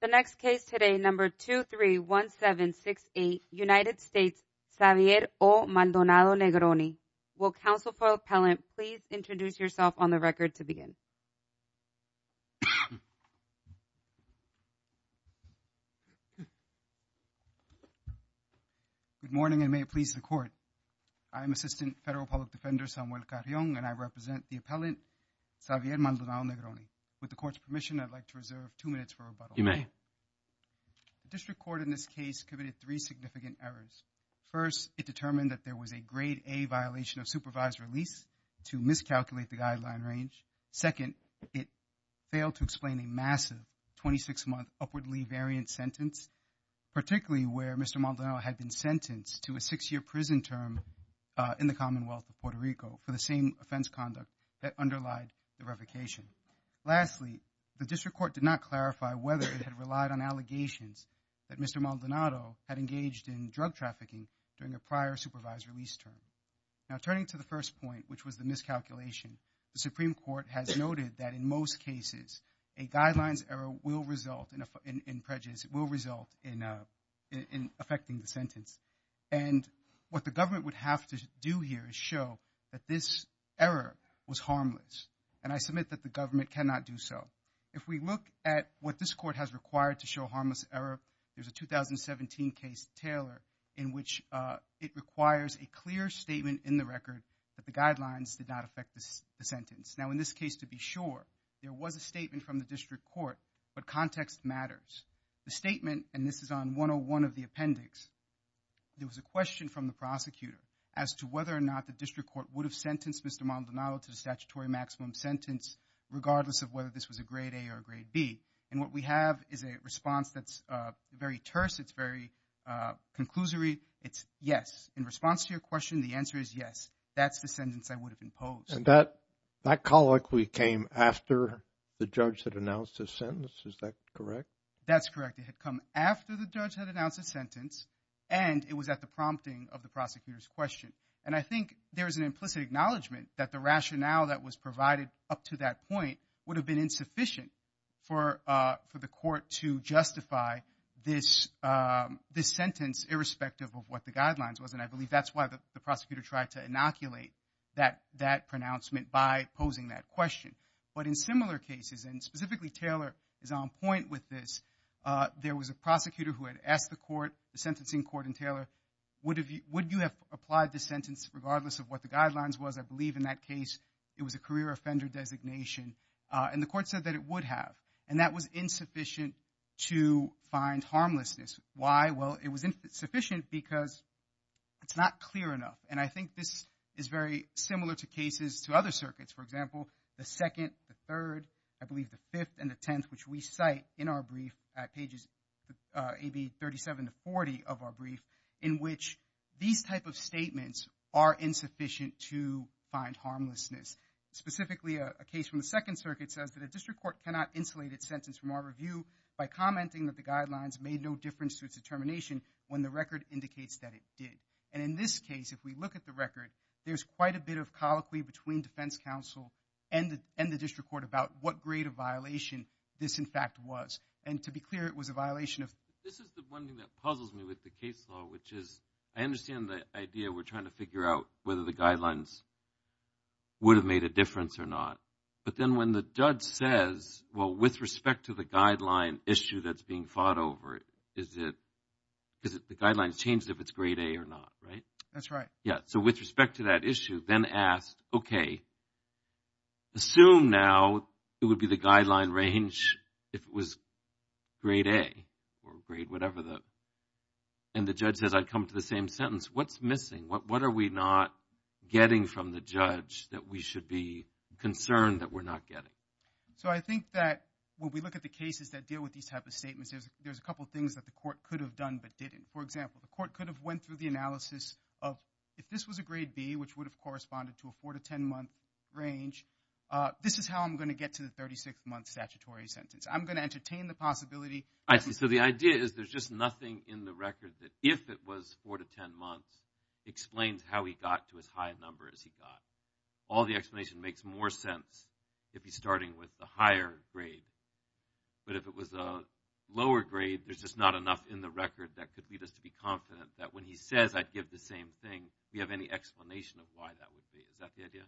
The next case today, number 231768, United States, Xavier O. Maldonado-Negroni. Will counsel for the appellant please introduce yourself on the record to begin? Good morning, and may it please the court. I am Assistant Federal Public Defender Samuel Carrion, and I represent the appellant, Xavier Maldonado-Negroni. With the court's permission, I'd like to reserve two minutes for rebuttal. You may. The district court in this case committed three significant errors. First, it determined that there was a grade A violation of supervised release to miscalculate the guideline range. Second, it failed to explain a massive 26-month upwardly variant sentence, particularly where Mr. Maldonado had been sentenced to a six-year prison term in the Commonwealth of Puerto Rico for the same offense conduct that underlied the revocation. Lastly, the district court did not clarify whether it had relied on allegations that Mr. Maldonado had engaged in drug trafficking during a prior supervised release term. Now, turning to the first point, which was the miscalculation, the Supreme Court has noted that in most cases, a guidelines error will result in prejudice, will result in affecting the sentence. And what the government would have to do here is show that this error was harmless, and I submit that the government cannot do so. If we look at what this court has required to show harmless error, there's a 2017 case Taylor in which it requires a clear statement in the record that the guidelines did not affect the sentence. Now, in this case, to be sure, there was a statement from the district court, but context matters. The statement, and this is on 101 of the appendix, there was a question from the prosecutor as to whether or not the district court would have sentenced Mr. Maldonado to the statutory maximum sentence regardless of whether this was a grade A or a grade B. And what we have is a response that's very terse, it's very conclusory, it's yes. In response to your question, the answer is yes. That's the sentence I would have imposed. And that colloquy came after the judge had announced his sentence, is that correct? That's correct. It had come after the judge had announced his sentence, and it was at the prompting of the prosecutor's question. And I think there's an implicit acknowledgment that the rationale that was provided up to that point would have been insufficient for the court to justify this sentence irrespective of what the guidelines was. And I believe that's why the prosecutor tried to inoculate that pronouncement by posing that question. But in similar cases, and specifically Taylor is on point with this, there was a prosecutor who had asked the court, the sentencing court in Taylor, would you have applied this sentence regardless of what the guidelines was? I believe in that case, it was a career offender designation. And the court said that it would have. And that was insufficient to find harmlessness. Why? Well, it was insufficient because it's not clear enough. And I think this is very similar to cases, to other circuits, for example, the second, the third, I believe the fifth, and the tenth, which we cite in our brief at pages, AB 37 to 40 of our brief, in which these type of statements are insufficient to find harmlessness. Specifically a case from the second circuit says that a district court cannot insulate its sentence from our review by commenting that the guidelines made no difference to its determination when the record indicates that it did. And in this case, if we look at the record, there's quite a bit of colloquy between defense counsel and the district court about what grade of violation this, in fact, was. And to be clear, it was a violation of. This is the one thing that puzzles me with the case law, which is I understand the idea we're trying to figure out whether the guidelines would have made a difference or not. But then when the judge says, well, with respect to the guideline issue that's being fought over, is it because the guidelines changed if it's grade A or not, right? That's right. Yeah, so with respect to that issue, Ben asked, OK, assume now it would be the guideline range if it was grade A or grade whatever. And the judge says, I'd come to the same sentence. What's missing? What are we not getting from the judge that we should be concerned that we're not getting? So I think that when we look at the cases that deal with these type of statements, there's a couple of things that the court could have done but didn't. For example, the court could have went through the analysis of if this was a grade B, which would have corresponded to a 4 to 10-month range, this is how I'm going to get to the 36-month statutory sentence. I'm going to entertain the possibility. I see. So the idea is there's just nothing in the record that if it was 4 to 10 months explains how he got to as high a number as he got. All the explanation makes more sense if he's starting with the higher grade. But if it was a lower grade, there's just not enough in the record that could lead us to be confident that when he says I'd give the same thing, we have any explanation of why that would be. Is that the idea?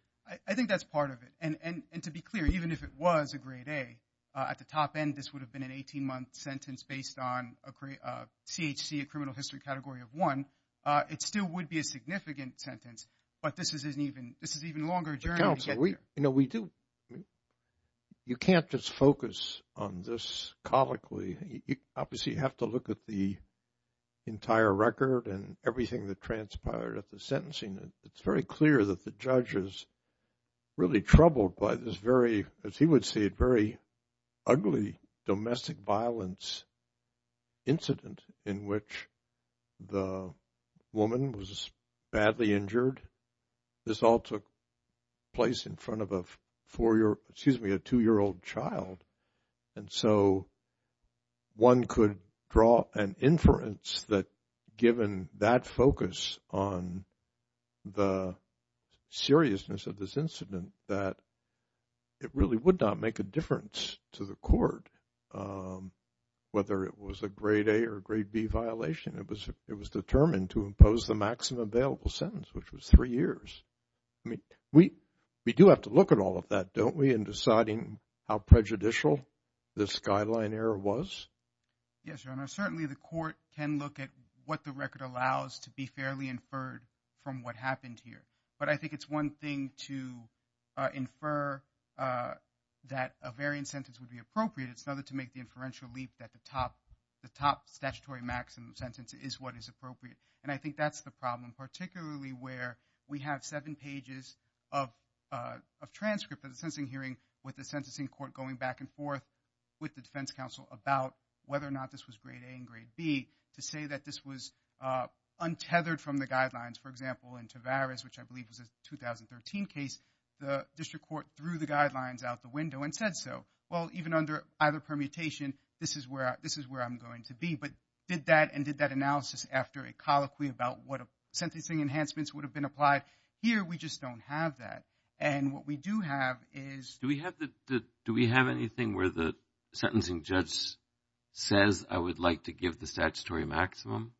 I think that's part of it. And to be clear, even if it was a grade A, at the top end, this would have been an 18-month sentence based on a CHC, a criminal history category of one. It still would be a significant sentence. But this is an even longer journey to get there. You know, we do, you can't just focus on this colicly. Obviously, you have to look at the entire record and everything that transpired at the sentencing. It's very clear that the judge is really troubled by this very, as he would see it, very ugly domestic violence incident in which the woman was badly injured. This all took place in front of a four-year, excuse me, a two-year-old child. And so, one could draw an inference that given that focus on the seriousness of this incident that it really would not make a difference to the court, whether it was a grade A or grade B violation. It was determined to impose the maximum available sentence, which was three years. I mean, we do have to look at all of that, don't we, in deciding how prejudicial this skyline error was? Yes, Your Honor. Certainly, the court can look at what the record allows to be fairly inferred from what happened here. But I think it's one thing to infer that a variant sentence would be appropriate. It's another to make the inferential leap that the top statutory maximum sentence is what is appropriate. And I think that's the problem, particularly where we have seven pages of transcript of the sentencing hearing with the sentencing court going back and forth with the defense counsel about whether or not this was grade A and grade B to say that this was untethered from the guidelines. For example, in Tavares, which I believe was a 2013 case, the district court threw the guidelines out the window and said so. Well, even under either permutation, this is where I'm going to be. But did that and did that analysis after a colloquy about what sentencing enhancements would have been applied? Here, we just don't have that. And what we do have is- Do we have anything where the sentencing judge says, I would like to give the statutory maximum?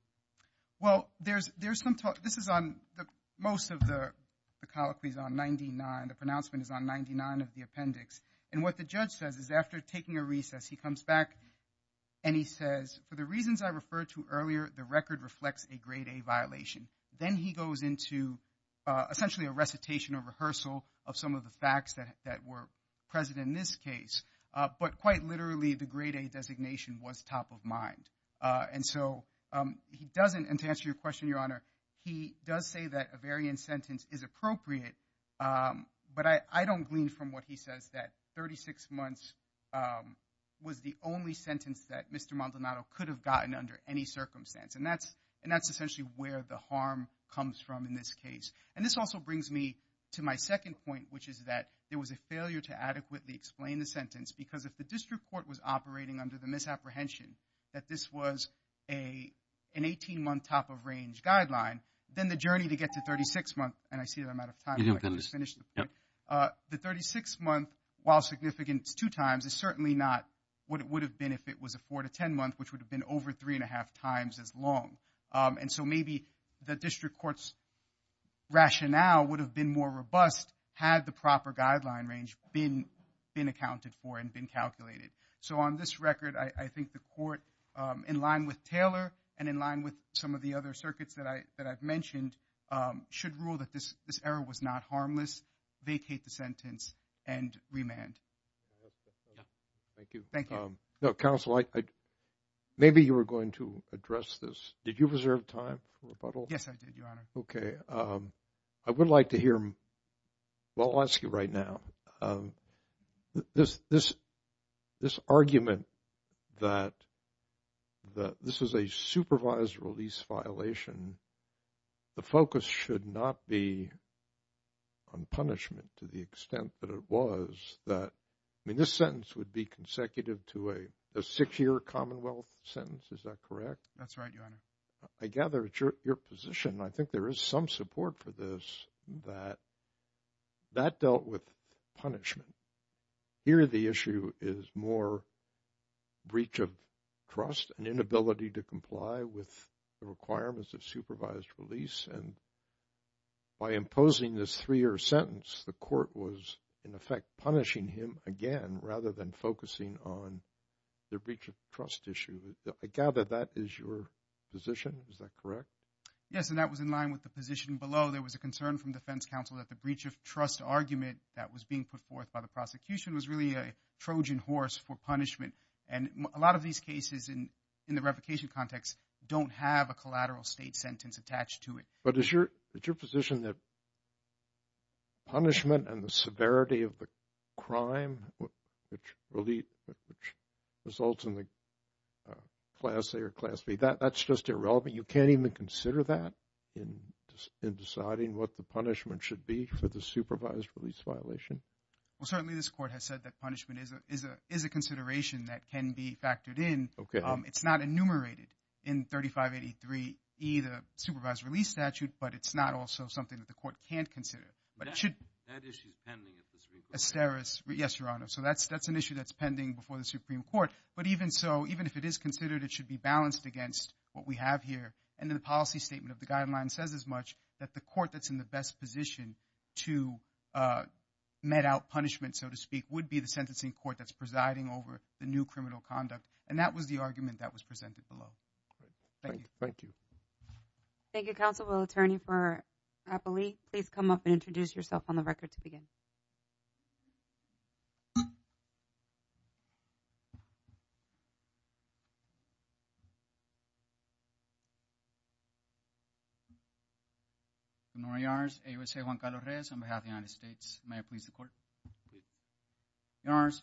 Well, there's some talk. This is on the most of the colloquies on 99, the pronouncement is on 99 of the appendix. And what the judge says is after taking a recess, he comes back and he says, for the reasons I referred to earlier, the record reflects a grade A violation. Then he goes into essentially a recitation or rehearsal of some of the facts that were present in this case. But quite literally, the grade A designation was top of mind. And so he doesn't, and to answer your question, Your Honor, he does say that a variant sentence is appropriate. But I don't glean from what he says that 36 months was the only sentence that Mr. Maldonado could have gotten under any circumstance. And that's essentially where the harm comes from in this case. And this also brings me to my second point, which is that there was a failure to adequately explain the sentence because if the district court was operating under the misapprehension that this was a, an 18 month top of range guideline, then the journey to get to 36 months. And I see that I'm out of time. You didn't finish. Yep. The 36 month while significance two times is certainly not what it would have been if it was a four to 10 month, which would have been over three and a half times as long. And so maybe the district court's rationale would have been more robust had the proper guideline range been accounted for and been calculated. So on this record, I think the court in line with Taylor and in line with some of the other circuits that I, that I've mentioned should rule that this, this error was not harmless. Vacate the sentence and remand. Thank you. Thank you. No, counsel, I, maybe you were going to address this. Did you reserve time for rebuttal? Yes, I did, Your Honor. Okay. I would like to hear, well, I'll ask you right now. This, this, this argument that, that this is a supervised release violation, the focus should not be on punishment to the extent that it was that, I mean, this sentence would be consecutive to a, a six year Commonwealth sentence. Is that correct? That's right. Your Honor. I gather it's your, your position. And I think there is some support for this, that, that dealt with punishment. Here, the issue is more breach of trust and inability to comply with the requirements of supervised release and by imposing this three year sentence, the court was in effect punishing him again, rather than focusing on the breach of trust issue. I gather that is your position. Is that correct? Yes. And that was in line with the position below. There was a concern from defense counsel that the breach of trust argument that was being put forth by the prosecution was really a Trojan horse for punishment. And a lot of these cases in, in the revocation context don't have a collateral state sentence attached to it. But is your, is your position that punishment and the severity of the crime, which, which results in the class A or class B, that, that's just irrelevant. You can't even consider that in, in deciding what the punishment should be for the supervised release violation? Well, certainly this court has said that punishment is a, is a, is a consideration that can be factored in. Okay. It's not enumerated in 3583E, the supervised release statute, but it's not also something that the court can't consider, but it should. That issue is pending at this revocation. Asteris. Yes, Your Honor. So that's, that's an issue that's pending before the Supreme Court. But, but even so, even if it is considered, it should be balanced against what we have here. And then the policy statement of the guideline says as much that the court that's in the best position to met out punishment, so to speak, would be the sentencing court that's presiding over the new criminal conduct. And that was the argument that was presented below. Great. Thank you. Thank you. Thank you, counsel. We'll turn you for Rappalee. Please come up and introduce yourself on the record to begin. I'm Nori Yars, AUSA Juan Carlos Reyes on behalf of the United States. May I please the court? Your Honors,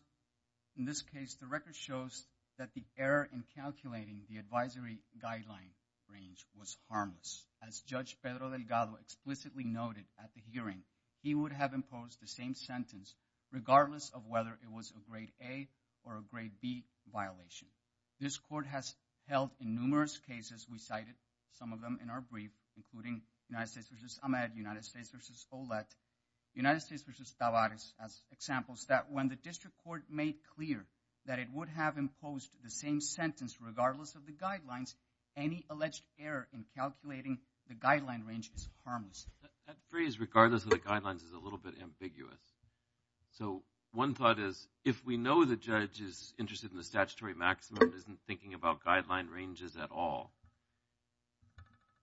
in this case, the record shows that the error in calculating the advisory guideline range was harmless. As Judge Pedro Delgado explicitly noted at the hearing, he would have imposed the same sentence regardless of whether it was a grade A or a grade B violation. This court has held in numerous cases, we cited some of them in our brief, including United States v. Ahmed, United States v. Ouellette, United States v. Tavares as examples that when the district court made clear that it would have imposed the same sentence regardless of the guidelines, any alleged error in calculating the guideline range is harmless. That phrase, regardless of the guidelines, is a little bit ambiguous. So one thought is, if we know the judge is interested in the statutory maximum and isn't thinking about guideline ranges at all,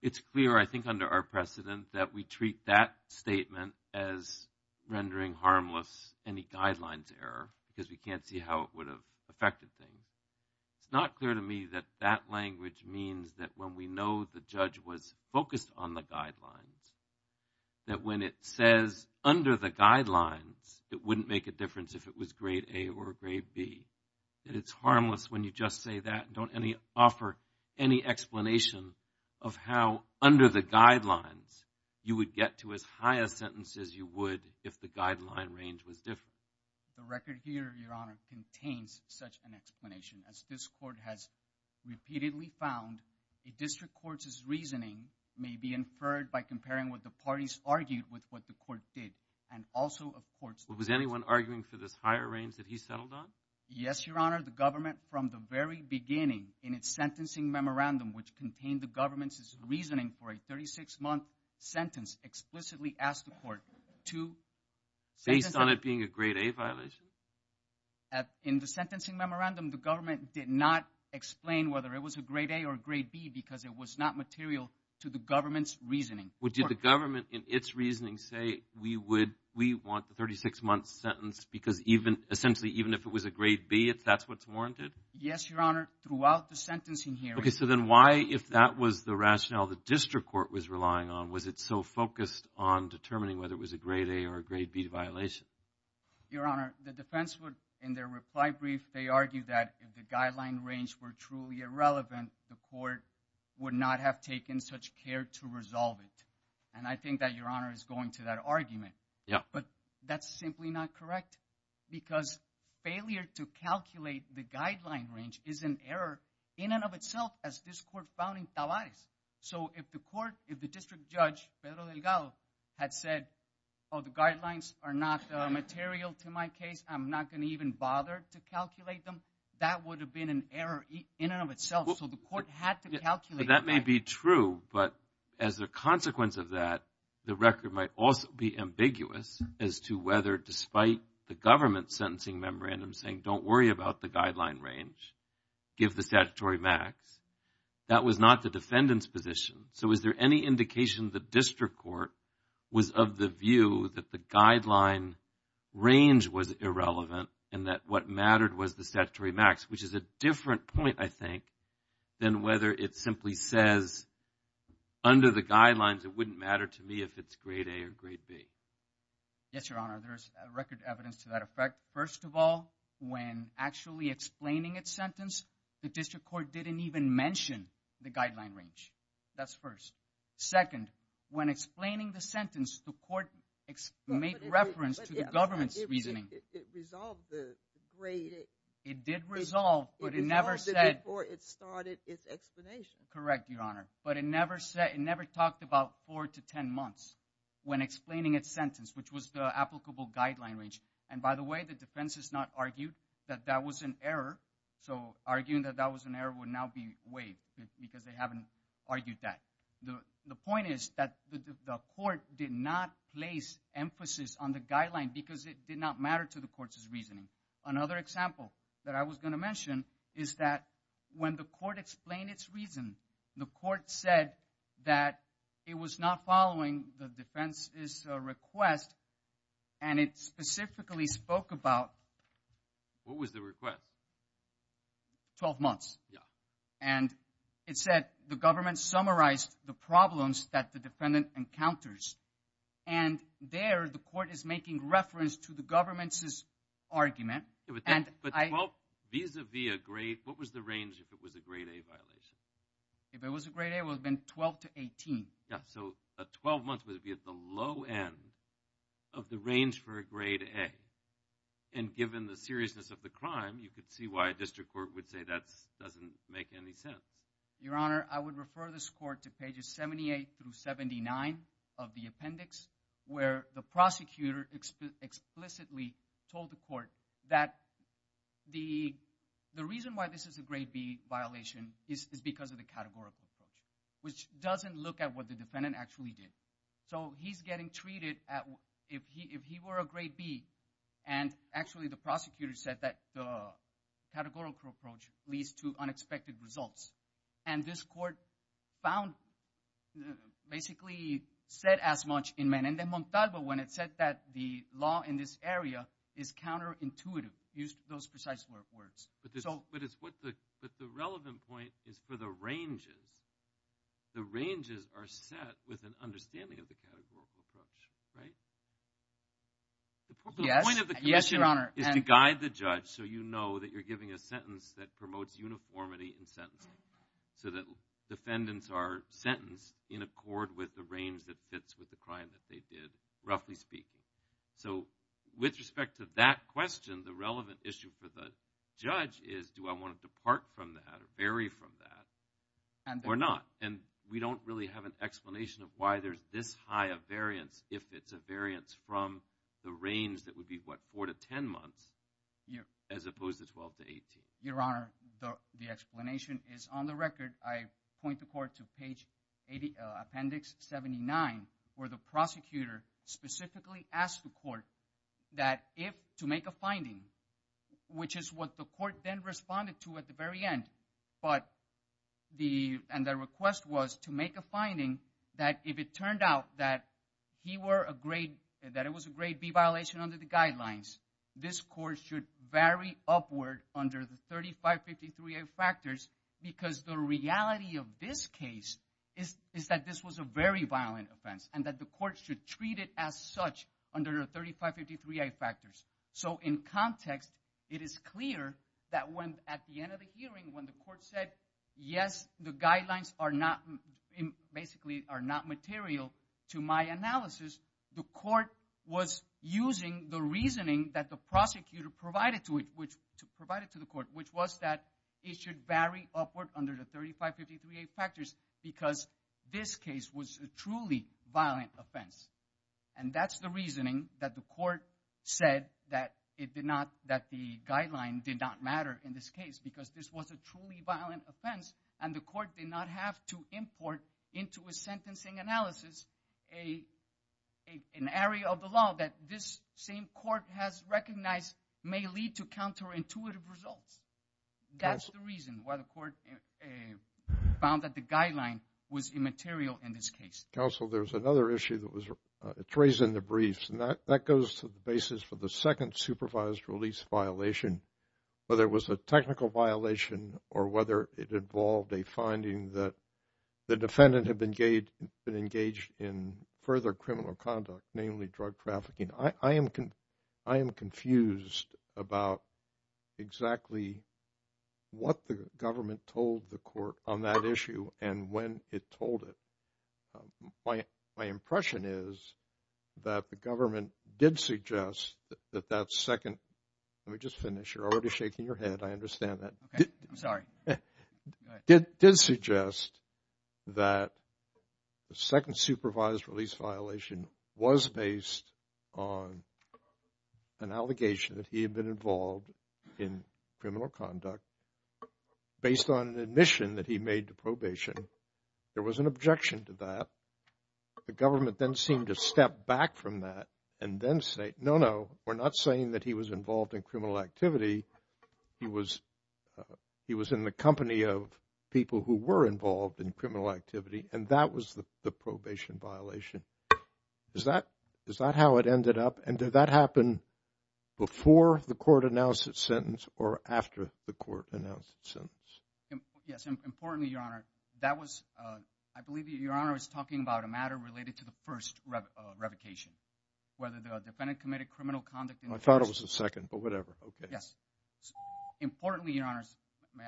it's clear, I think, under our precedent that we treat that statement as rendering harmless any guidelines error because we can't see how it would have affected things. It's not clear to me that that language means that when we know the judge was focused on the guidelines, that when it says, under the guidelines, it wouldn't make a difference if it was grade A or grade B, that it's harmless when you just say that and don't offer any explanation of how under the guidelines you would get to as high a sentence as you would if the guideline range was different. The record here, Your Honor, contains such an explanation as this court has repeatedly found a district court's reasoning may be inferred by comparing what the parties argued with what the court did and also, of course, Was anyone arguing for this higher range that he settled on? Yes, Your Honor. The government, from the very beginning, in its sentencing memorandum, which contained the government's reasoning for a 36-month sentence, explicitly asked the court to Based on it being a grade A violation? In the sentencing memorandum, the government did not explain whether it was a grade A or grade B because it was not material to the government's reasoning. Would the government, in its reasoning, say, we want the 36-month sentence because, essentially, even if it was a grade B, that's what's warranted? Yes, Your Honor, throughout the sentencing hearing. So then why, if that was the rationale the district court was relying on, was it so focused on determining whether it was a grade A or a grade B violation? Your Honor, the defense would, in their reply brief, they argued that if the guideline range were truly irrelevant, the court would not have taken such care to resolve it. And I think that Your Honor is going to that argument. Yeah. But that's simply not correct because failure to calculate the guideline range is an error in and of itself as this court found in Tavares. So if the court, if the district judge, Pedro Delgado, had said, oh, the guidelines are not material to my case, I'm not going to even bother to calculate them, that would have been an error in and of itself. So the court had to calculate. That may be true, but as a consequence of that, the record might also be ambiguous as to whether, despite the government's sentencing memorandum saying, don't worry about the guideline range, give the statutory max. That was not the defendant's position. So is there any indication the district court was of the view that the guideline range was irrelevant and that what mattered was the statutory max, which is a different point, I think, than whether it simply says, under the guidelines, it wouldn't matter to me if it's grade A or grade B. Yes, Your Honor, there's record evidence to that effect. First of all, when actually explaining its sentence, the district court didn't even mention the guideline range. That's first. Second, when explaining the sentence, the court made reference to the government's reasoning. It resolved the grade. It did resolve, but it never said. It resolved it before it started its explanation. Correct, Your Honor. But it never said, it never talked about four to ten months when explaining its sentence, which was the applicable guideline range. And by the way, the defense has not argued that that was an error. So arguing that that was an error would now be waived because they haven't argued that. The point is that the court did not place emphasis on the guideline because it did not matter to the court's reasoning. Another example that I was going to mention is that when the court explained its reason, the court said that it was not following the defense's request, and it specifically spoke about what was the request, 12 months. And it said the government summarized the problems that the defendant encounters. And there, the court is making reference to the government's argument. But 12, vis-a-vis a grade, what was the range if it was a grade A violation? If it was a grade A, it would have been 12 to 18. Yeah, so 12 months would be at the low end of the range for a grade A. And given the seriousness of the crime, you could see why a district court would say that doesn't make any sense. Your Honor, I would refer this court to pages 78 through 79 of the appendix, where the prosecutor explicitly told the court that the reason why this is a grade B violation is because of the categorical approach, which doesn't look at what the defendant actually did. So he's getting treated at, if he were a grade B, and actually the prosecutor said that the categorical approach leads to unexpected results. And this court found, basically said as much in Menendez-Montalvo when it said that the law in this area is counterintuitive, used those precise words. But the relevant point is for the ranges. The ranges are set with an understanding of the categorical approach, right? Yes, Your Honor. The point of the commission is to guide the judge so you know that you're giving a sentence that promotes uniformity in sentencing, so that defendants are sentenced in accord with the range that fits with the crime that they did, roughly speaking. So with respect to that question, the relevant issue for the judge is do I want to depart from that or vary from that or not? And we don't really have an explanation of why there's this high a variance if it's a variance from the range that would be, what, 4 to 10 months, as opposed to 12 to 18. Your Honor, the explanation is on the record. I point the court to page 80, appendix 79, where the prosecutor specifically asked the court that if, to make a finding, which is what the court then responded to at the very end, but the, and the request was to make a finding that if it turned out that he were a grade, that it was a grade B violation under the guidelines, this court should vary upward under the 3553A factors because the reality of this case is that this was a very violent offense and that the court should treat it as such under the 3553A factors. So in context, it is clear that when, at the end of the hearing, when the court said, yes, the guidelines are not, basically are not material to my analysis, the court was using the reasoning that the prosecutor provided to it, which provided to the court, which was that it should vary upward under the 3553A factors because this case was a truly violent offense. And that's the reasoning that the court said that it did not, that the guideline did not matter in this case because this was a truly violent offense and the court did not have to import into a sentencing analysis an area of the law that this same court has recognized may lead to counterintuitive results. That's the reason why the court found that the guideline was immaterial in this case. Counsel, there's another issue that was, it's raised in the briefs and that goes to the basis for the second supervised release violation, whether it was a technical violation or whether it involved a finding that the defendant had been engaged in further criminal conduct, namely drug trafficking. I am, I am confused about exactly what the government told the court on that issue and when it told it. My impression is that the government did suggest that that second, let me just finish. You're already shaking your head. I understand that. I'm sorry. Did suggest that the second supervised release violation was based on an allegation that he had been involved in criminal conduct based on an admission that he made to probation. There was an objection to that. The government then seemed to step back from that and then say, no, no, we're not saying that he was involved in criminal activity. He was, he was in the company of people who were involved in criminal activity and that was the probation violation. Is that, is that how it ended up and did that happen before the court announced its sentence or after the court announced its sentence? Yes, importantly, your honor, that was, I believe your honor is talking about a matter related to the first revocation, whether the defendant committed criminal conduct. I thought it was the second, but whatever. Yes. Importantly, your honors, may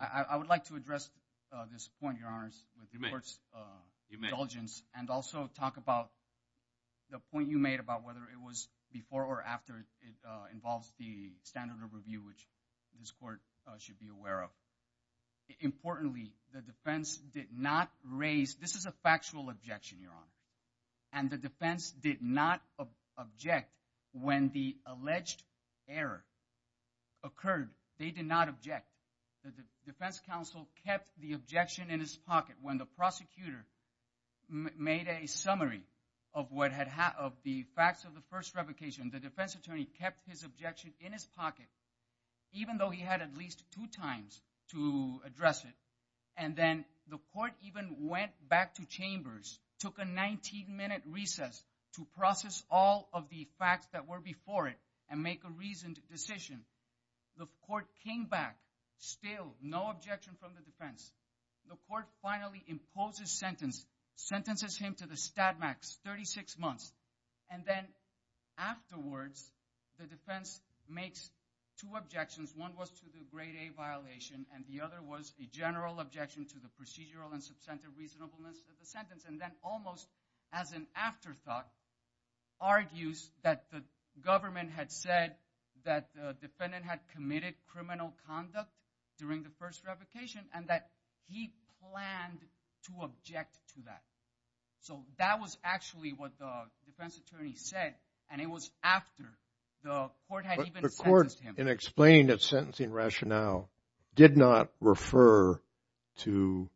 I, I would like to address this point, your honors, with the court's indulgence and also talk about the point you made about whether it was before or after it involves the standard of review, which this court should be aware of. Importantly, the defense did not raise, this is a factual objection, your honor, and the error occurred. They did not object. The defense counsel kept the objection in his pocket. When the prosecutor made a summary of what had, of the facts of the first revocation, the defense attorney kept his objection in his pocket, even though he had at least two times to address it. And then the court even went back to chambers, took a 19 minute recess to process all of the facts that were before it and make a reasoned decision. The court came back, still no objection from the defense. The court finally imposes sentence, sentences him to the stat max, 36 months. And then afterwards, the defense makes two objections. One was to the grade A violation and the other was a general objection to the procedural and substantive reasonableness of the sentence. And then almost as an afterthought, argues that the government had said that the defendant had committed criminal conduct during the first revocation and that he planned to object to that. So that was actually what the defense attorney said. And it was after the court had even sentenced him. And explained that sentencing rationale did not refer to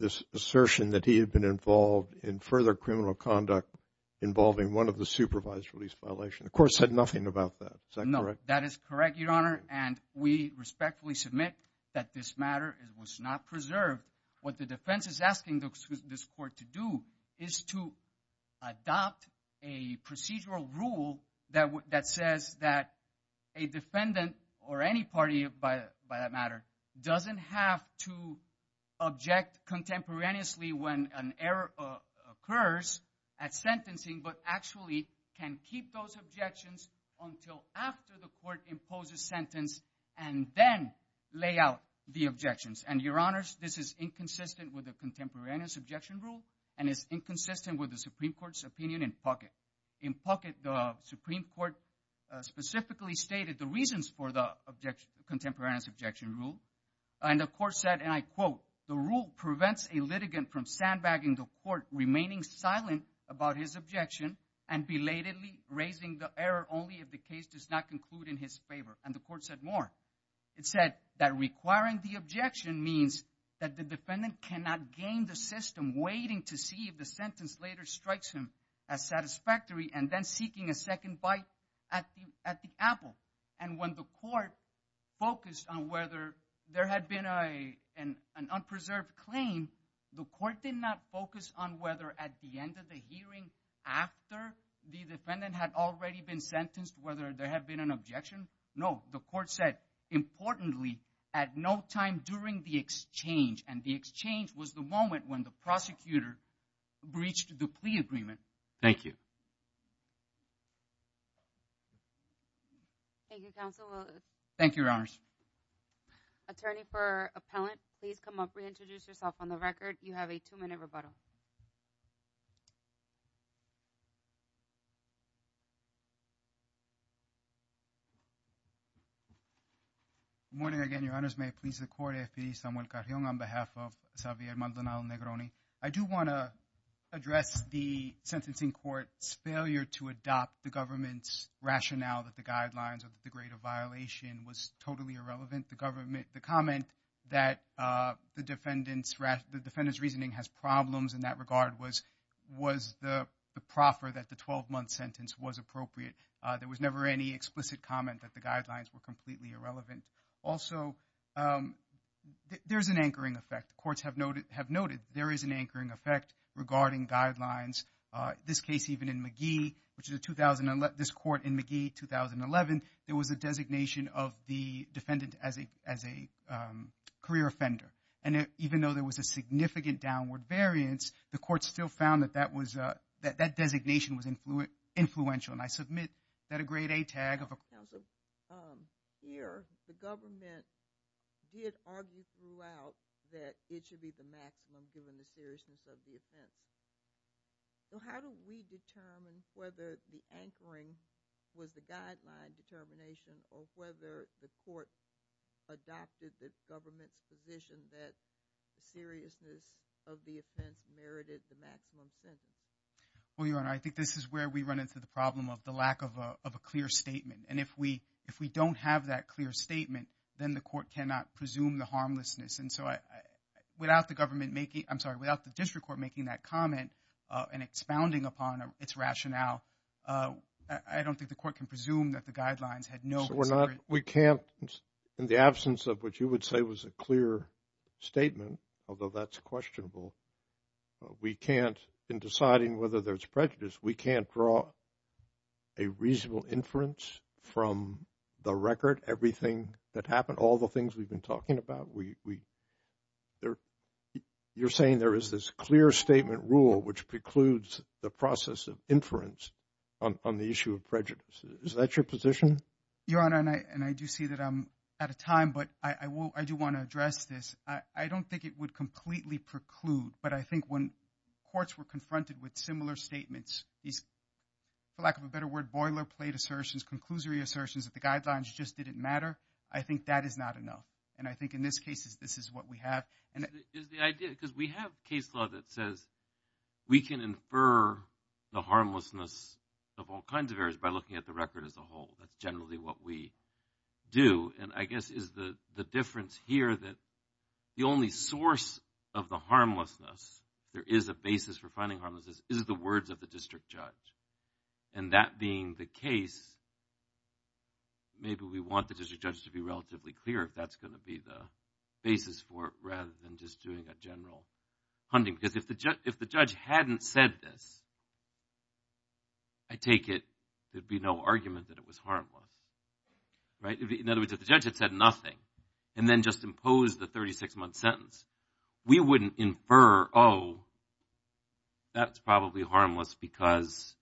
this assertion that he had been involved in further criminal conduct involving one of the supervised release violation. Of course, said nothing about that. Is that correct? That is correct, Your Honor. And we respectfully submit that this matter was not preserved. What the defense is asking this court to do is to adopt a procedural rule that says that a defendant or any party by that matter doesn't have to object contemporaneously when an error occurs at sentencing, but actually can keep those objections until after the court imposes sentence and then lay out the objections. And Your Honors, this is inconsistent with the contemporaneous objection rule. And it's inconsistent with the Supreme Court's opinion in pocket. In pocket, the Supreme Court specifically stated the reasons for the objection, contemporaneous objection rule. And the court said, and I quote, the rule prevents a litigant from sandbagging the court remaining silent about his objection and belatedly raising the error only if the case does not conclude in his favor. And the court said more. It said that requiring the objection means that the defendant cannot gain the system waiting to see if the sentence later strikes him as satisfactory and then seeking a second bite at the apple. And when the court focused on whether there had been an unpreserved claim, the court did not focus on whether at the end of the hearing after the defendant had already been sentenced, whether there had been an objection. No, the court said, importantly, at no time during the exchange. And the exchange was the moment when the prosecutor breached the plea agreement. Thank you. Thank you, Counsel. Thank you, Your Honors. Attorney for Appellant, please come up. Reintroduce yourself on the record. You have a two-minute rebuttal. Good morning again, Your Honors. May it please the Court, F.P. Samuel Carrion on behalf of Xavier Maldonado Negroni. I do want to address the sentencing court's failure to adopt the government's rationale that the guidelines of the greater violation was totally irrelevant. The comment that the defendant's reasoning has problems in that regard was the proffer that the 12-month sentence was appropriate. There was never any explicit comment that the guidelines were completely irrelevant. Also, there's an anchoring effect. Courts have noted there is an anchoring effect regarding guidelines. This case, even in McGee, which is a 2011, this court in McGee, 2011, there was a designation of the defendant as a career offender. And even though there was a significant downward variance, the court still found that that designation was influential. And I submit that a grade A tag of a- Counsel, here, the government did argue throughout that it should be the maximum given the seriousness of the offense. So how do we determine whether the anchoring was the guideline determination or whether the court adopted the government's position that the seriousness of the offense merited the maximum sentence? Well, Your Honor, I think this is where we run into the problem of the lack of a clear statement. And if we don't have that clear statement, then the court cannot presume the harmlessness. And so without the government making- I'm sorry, without the district court making that comment and expounding upon its rationale, I don't think the court can presume that the guidelines had no- So we're not- We can't, in the absence of what you would say was a clear statement, although that's questionable, but we can't, in deciding whether there's prejudice, we can't draw a reasonable inference from the record, everything that happened, all the things we've been talking about. You're saying there is this clear statement rule, which precludes the process of inference on the issue of prejudice. Is that your position? Your Honor, and I do see that I'm out of time, but I do want to address this. I don't think it would completely preclude, but I think when courts were confronted with similar statements, these, for lack of a better word, boilerplate assertions, conclusory assertions that the guidelines just didn't matter, I think that is not enough. And I think in this case, this is what we have. And is the idea, because we have case law that says we can infer the harmlessness of all kinds of errors by looking at the record as a whole. That's generally what we do. And I guess is the difference here that the only source of the harmlessness, there is a basis for finding harmlessness, is the words of the district judge. And that being the case, maybe we want the district judge to be relatively clear if that's going to be the basis for it, rather than just doing a general hunting. Because if the judge hadn't said this, I take it there'd be no argument that it was harmless. Right? In other words, if the judge had said nothing, and then just imposed the 36-month sentence, we wouldn't infer, oh, that's probably harmless, because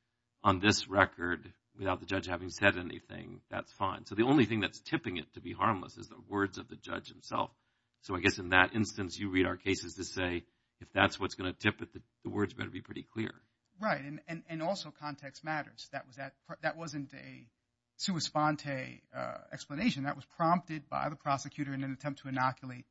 on this record, without the judge having said anything, that's fine. So the only thing that's tipping it to be harmless is the words of the judge himself. So I guess in that instance, you read our cases to say, if that's what's going to tip it, the words better be pretty clear. Right. And also context matters. That wasn't a sua sponte explanation. That was prompted by the prosecutor in an attempt to inoculate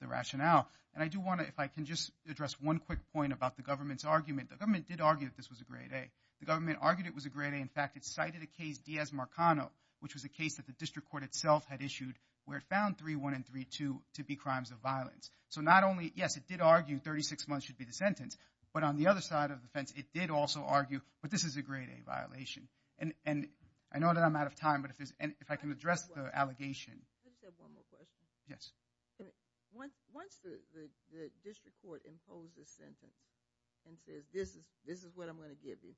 the rationale. And I do want to, if I can just address one quick point about the government's argument. The government did argue that this was a grade A. The government argued it was a grade A. In fact, it cited a case, Diaz-Marcano, which was a case that the district court itself had issued, where it found 3.1 and 3.2 to be crimes of violence. So not only, yes, it did argue 36 months should be the sentence, but on the other side of the fence, it did also argue, but this is a grade A violation. And I know that I'm out of time, but if I can address the allegation. I just have one more question. Yes. Once the district court imposes sentence and says, this is what I'm going to give you,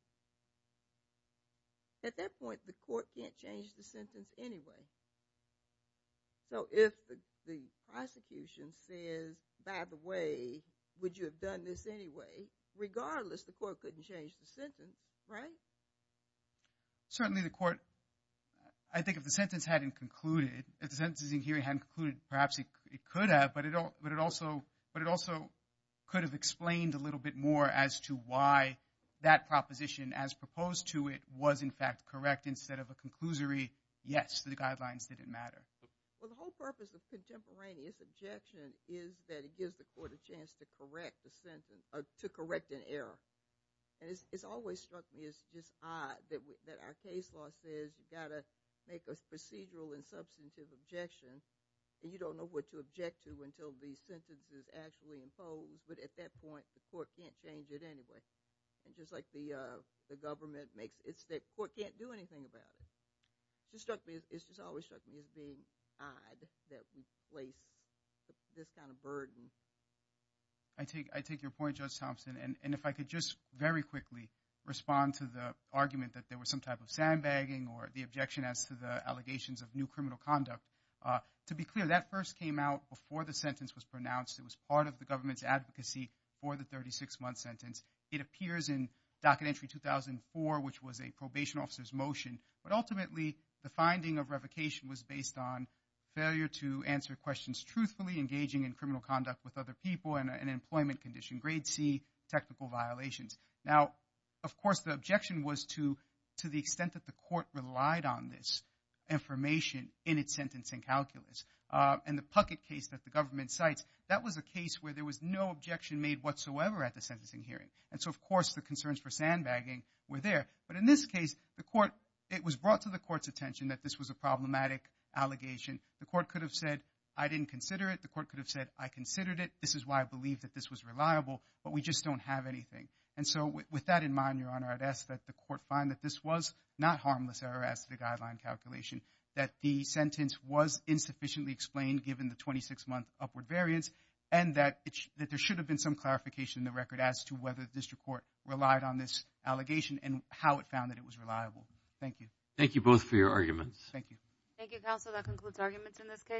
at that point, the court can't change the sentence anyway. So if the prosecution says, by the way, would you have done this anyway? Regardless, the court couldn't change the sentence. Right? Certainly, the court, I think if the sentence hadn't concluded, if the sentencing hearing hadn't concluded, perhaps it could have, but it also could have explained a little bit more as to why that proposition, as proposed to it, was in fact correct instead of a conclusory, yes, the guidelines didn't matter. Well, the whole purpose of contemporaneous objection is that it gives the court a chance to correct an error. And it's always struck me as just odd that our case law says, you've got to make a procedural and substantive objection, and you don't know what to object to until the sentence is actually imposed. But at that point, the court can't change it anyway. And just like the government makes, it's that court can't do anything about it. Just struck me, it's just always struck me as being odd that we place this kind of burden. I take your point, Judge Thompson. And if I could just very quickly respond to the argument that there was some type of sandbagging or the objection as to the allegations of new criminal conduct. To be clear, that first came out before the sentence was pronounced. It was part of the government's advocacy for the 36-month sentence. It appears in docket entry 2004, which was a probation officer's motion. But ultimately, the finding of revocation was based on failure to answer questions truthfully engaging in criminal conduct with other people and an employment condition, grade C technical violations. Now, of course, the objection was to the extent that the court relied on this information in its sentencing calculus. And the Puckett case that the government cites, that was a case where there was no objection made whatsoever at the sentencing hearing. And so, of course, the concerns for sandbagging were there. But in this case, the court, it was brought to the court's attention that this was a problematic allegation. The court could have said, I didn't consider it. The court could have said, I considered it. This is why I believe that this was reliable, but we just don't have anything. And so, with that in mind, Your Honor, I'd ask that the court find that this was not harmless error as to the guideline calculation, that the sentence was insufficiently explained given the 26-month upward variance, and that there should have been some clarification in the record as to whether the district court relied on this allegation and how it found that it was reliable. Thank you. Thank you both for your arguments. Thank you. Thank you, counsel. That concludes arguments in this case.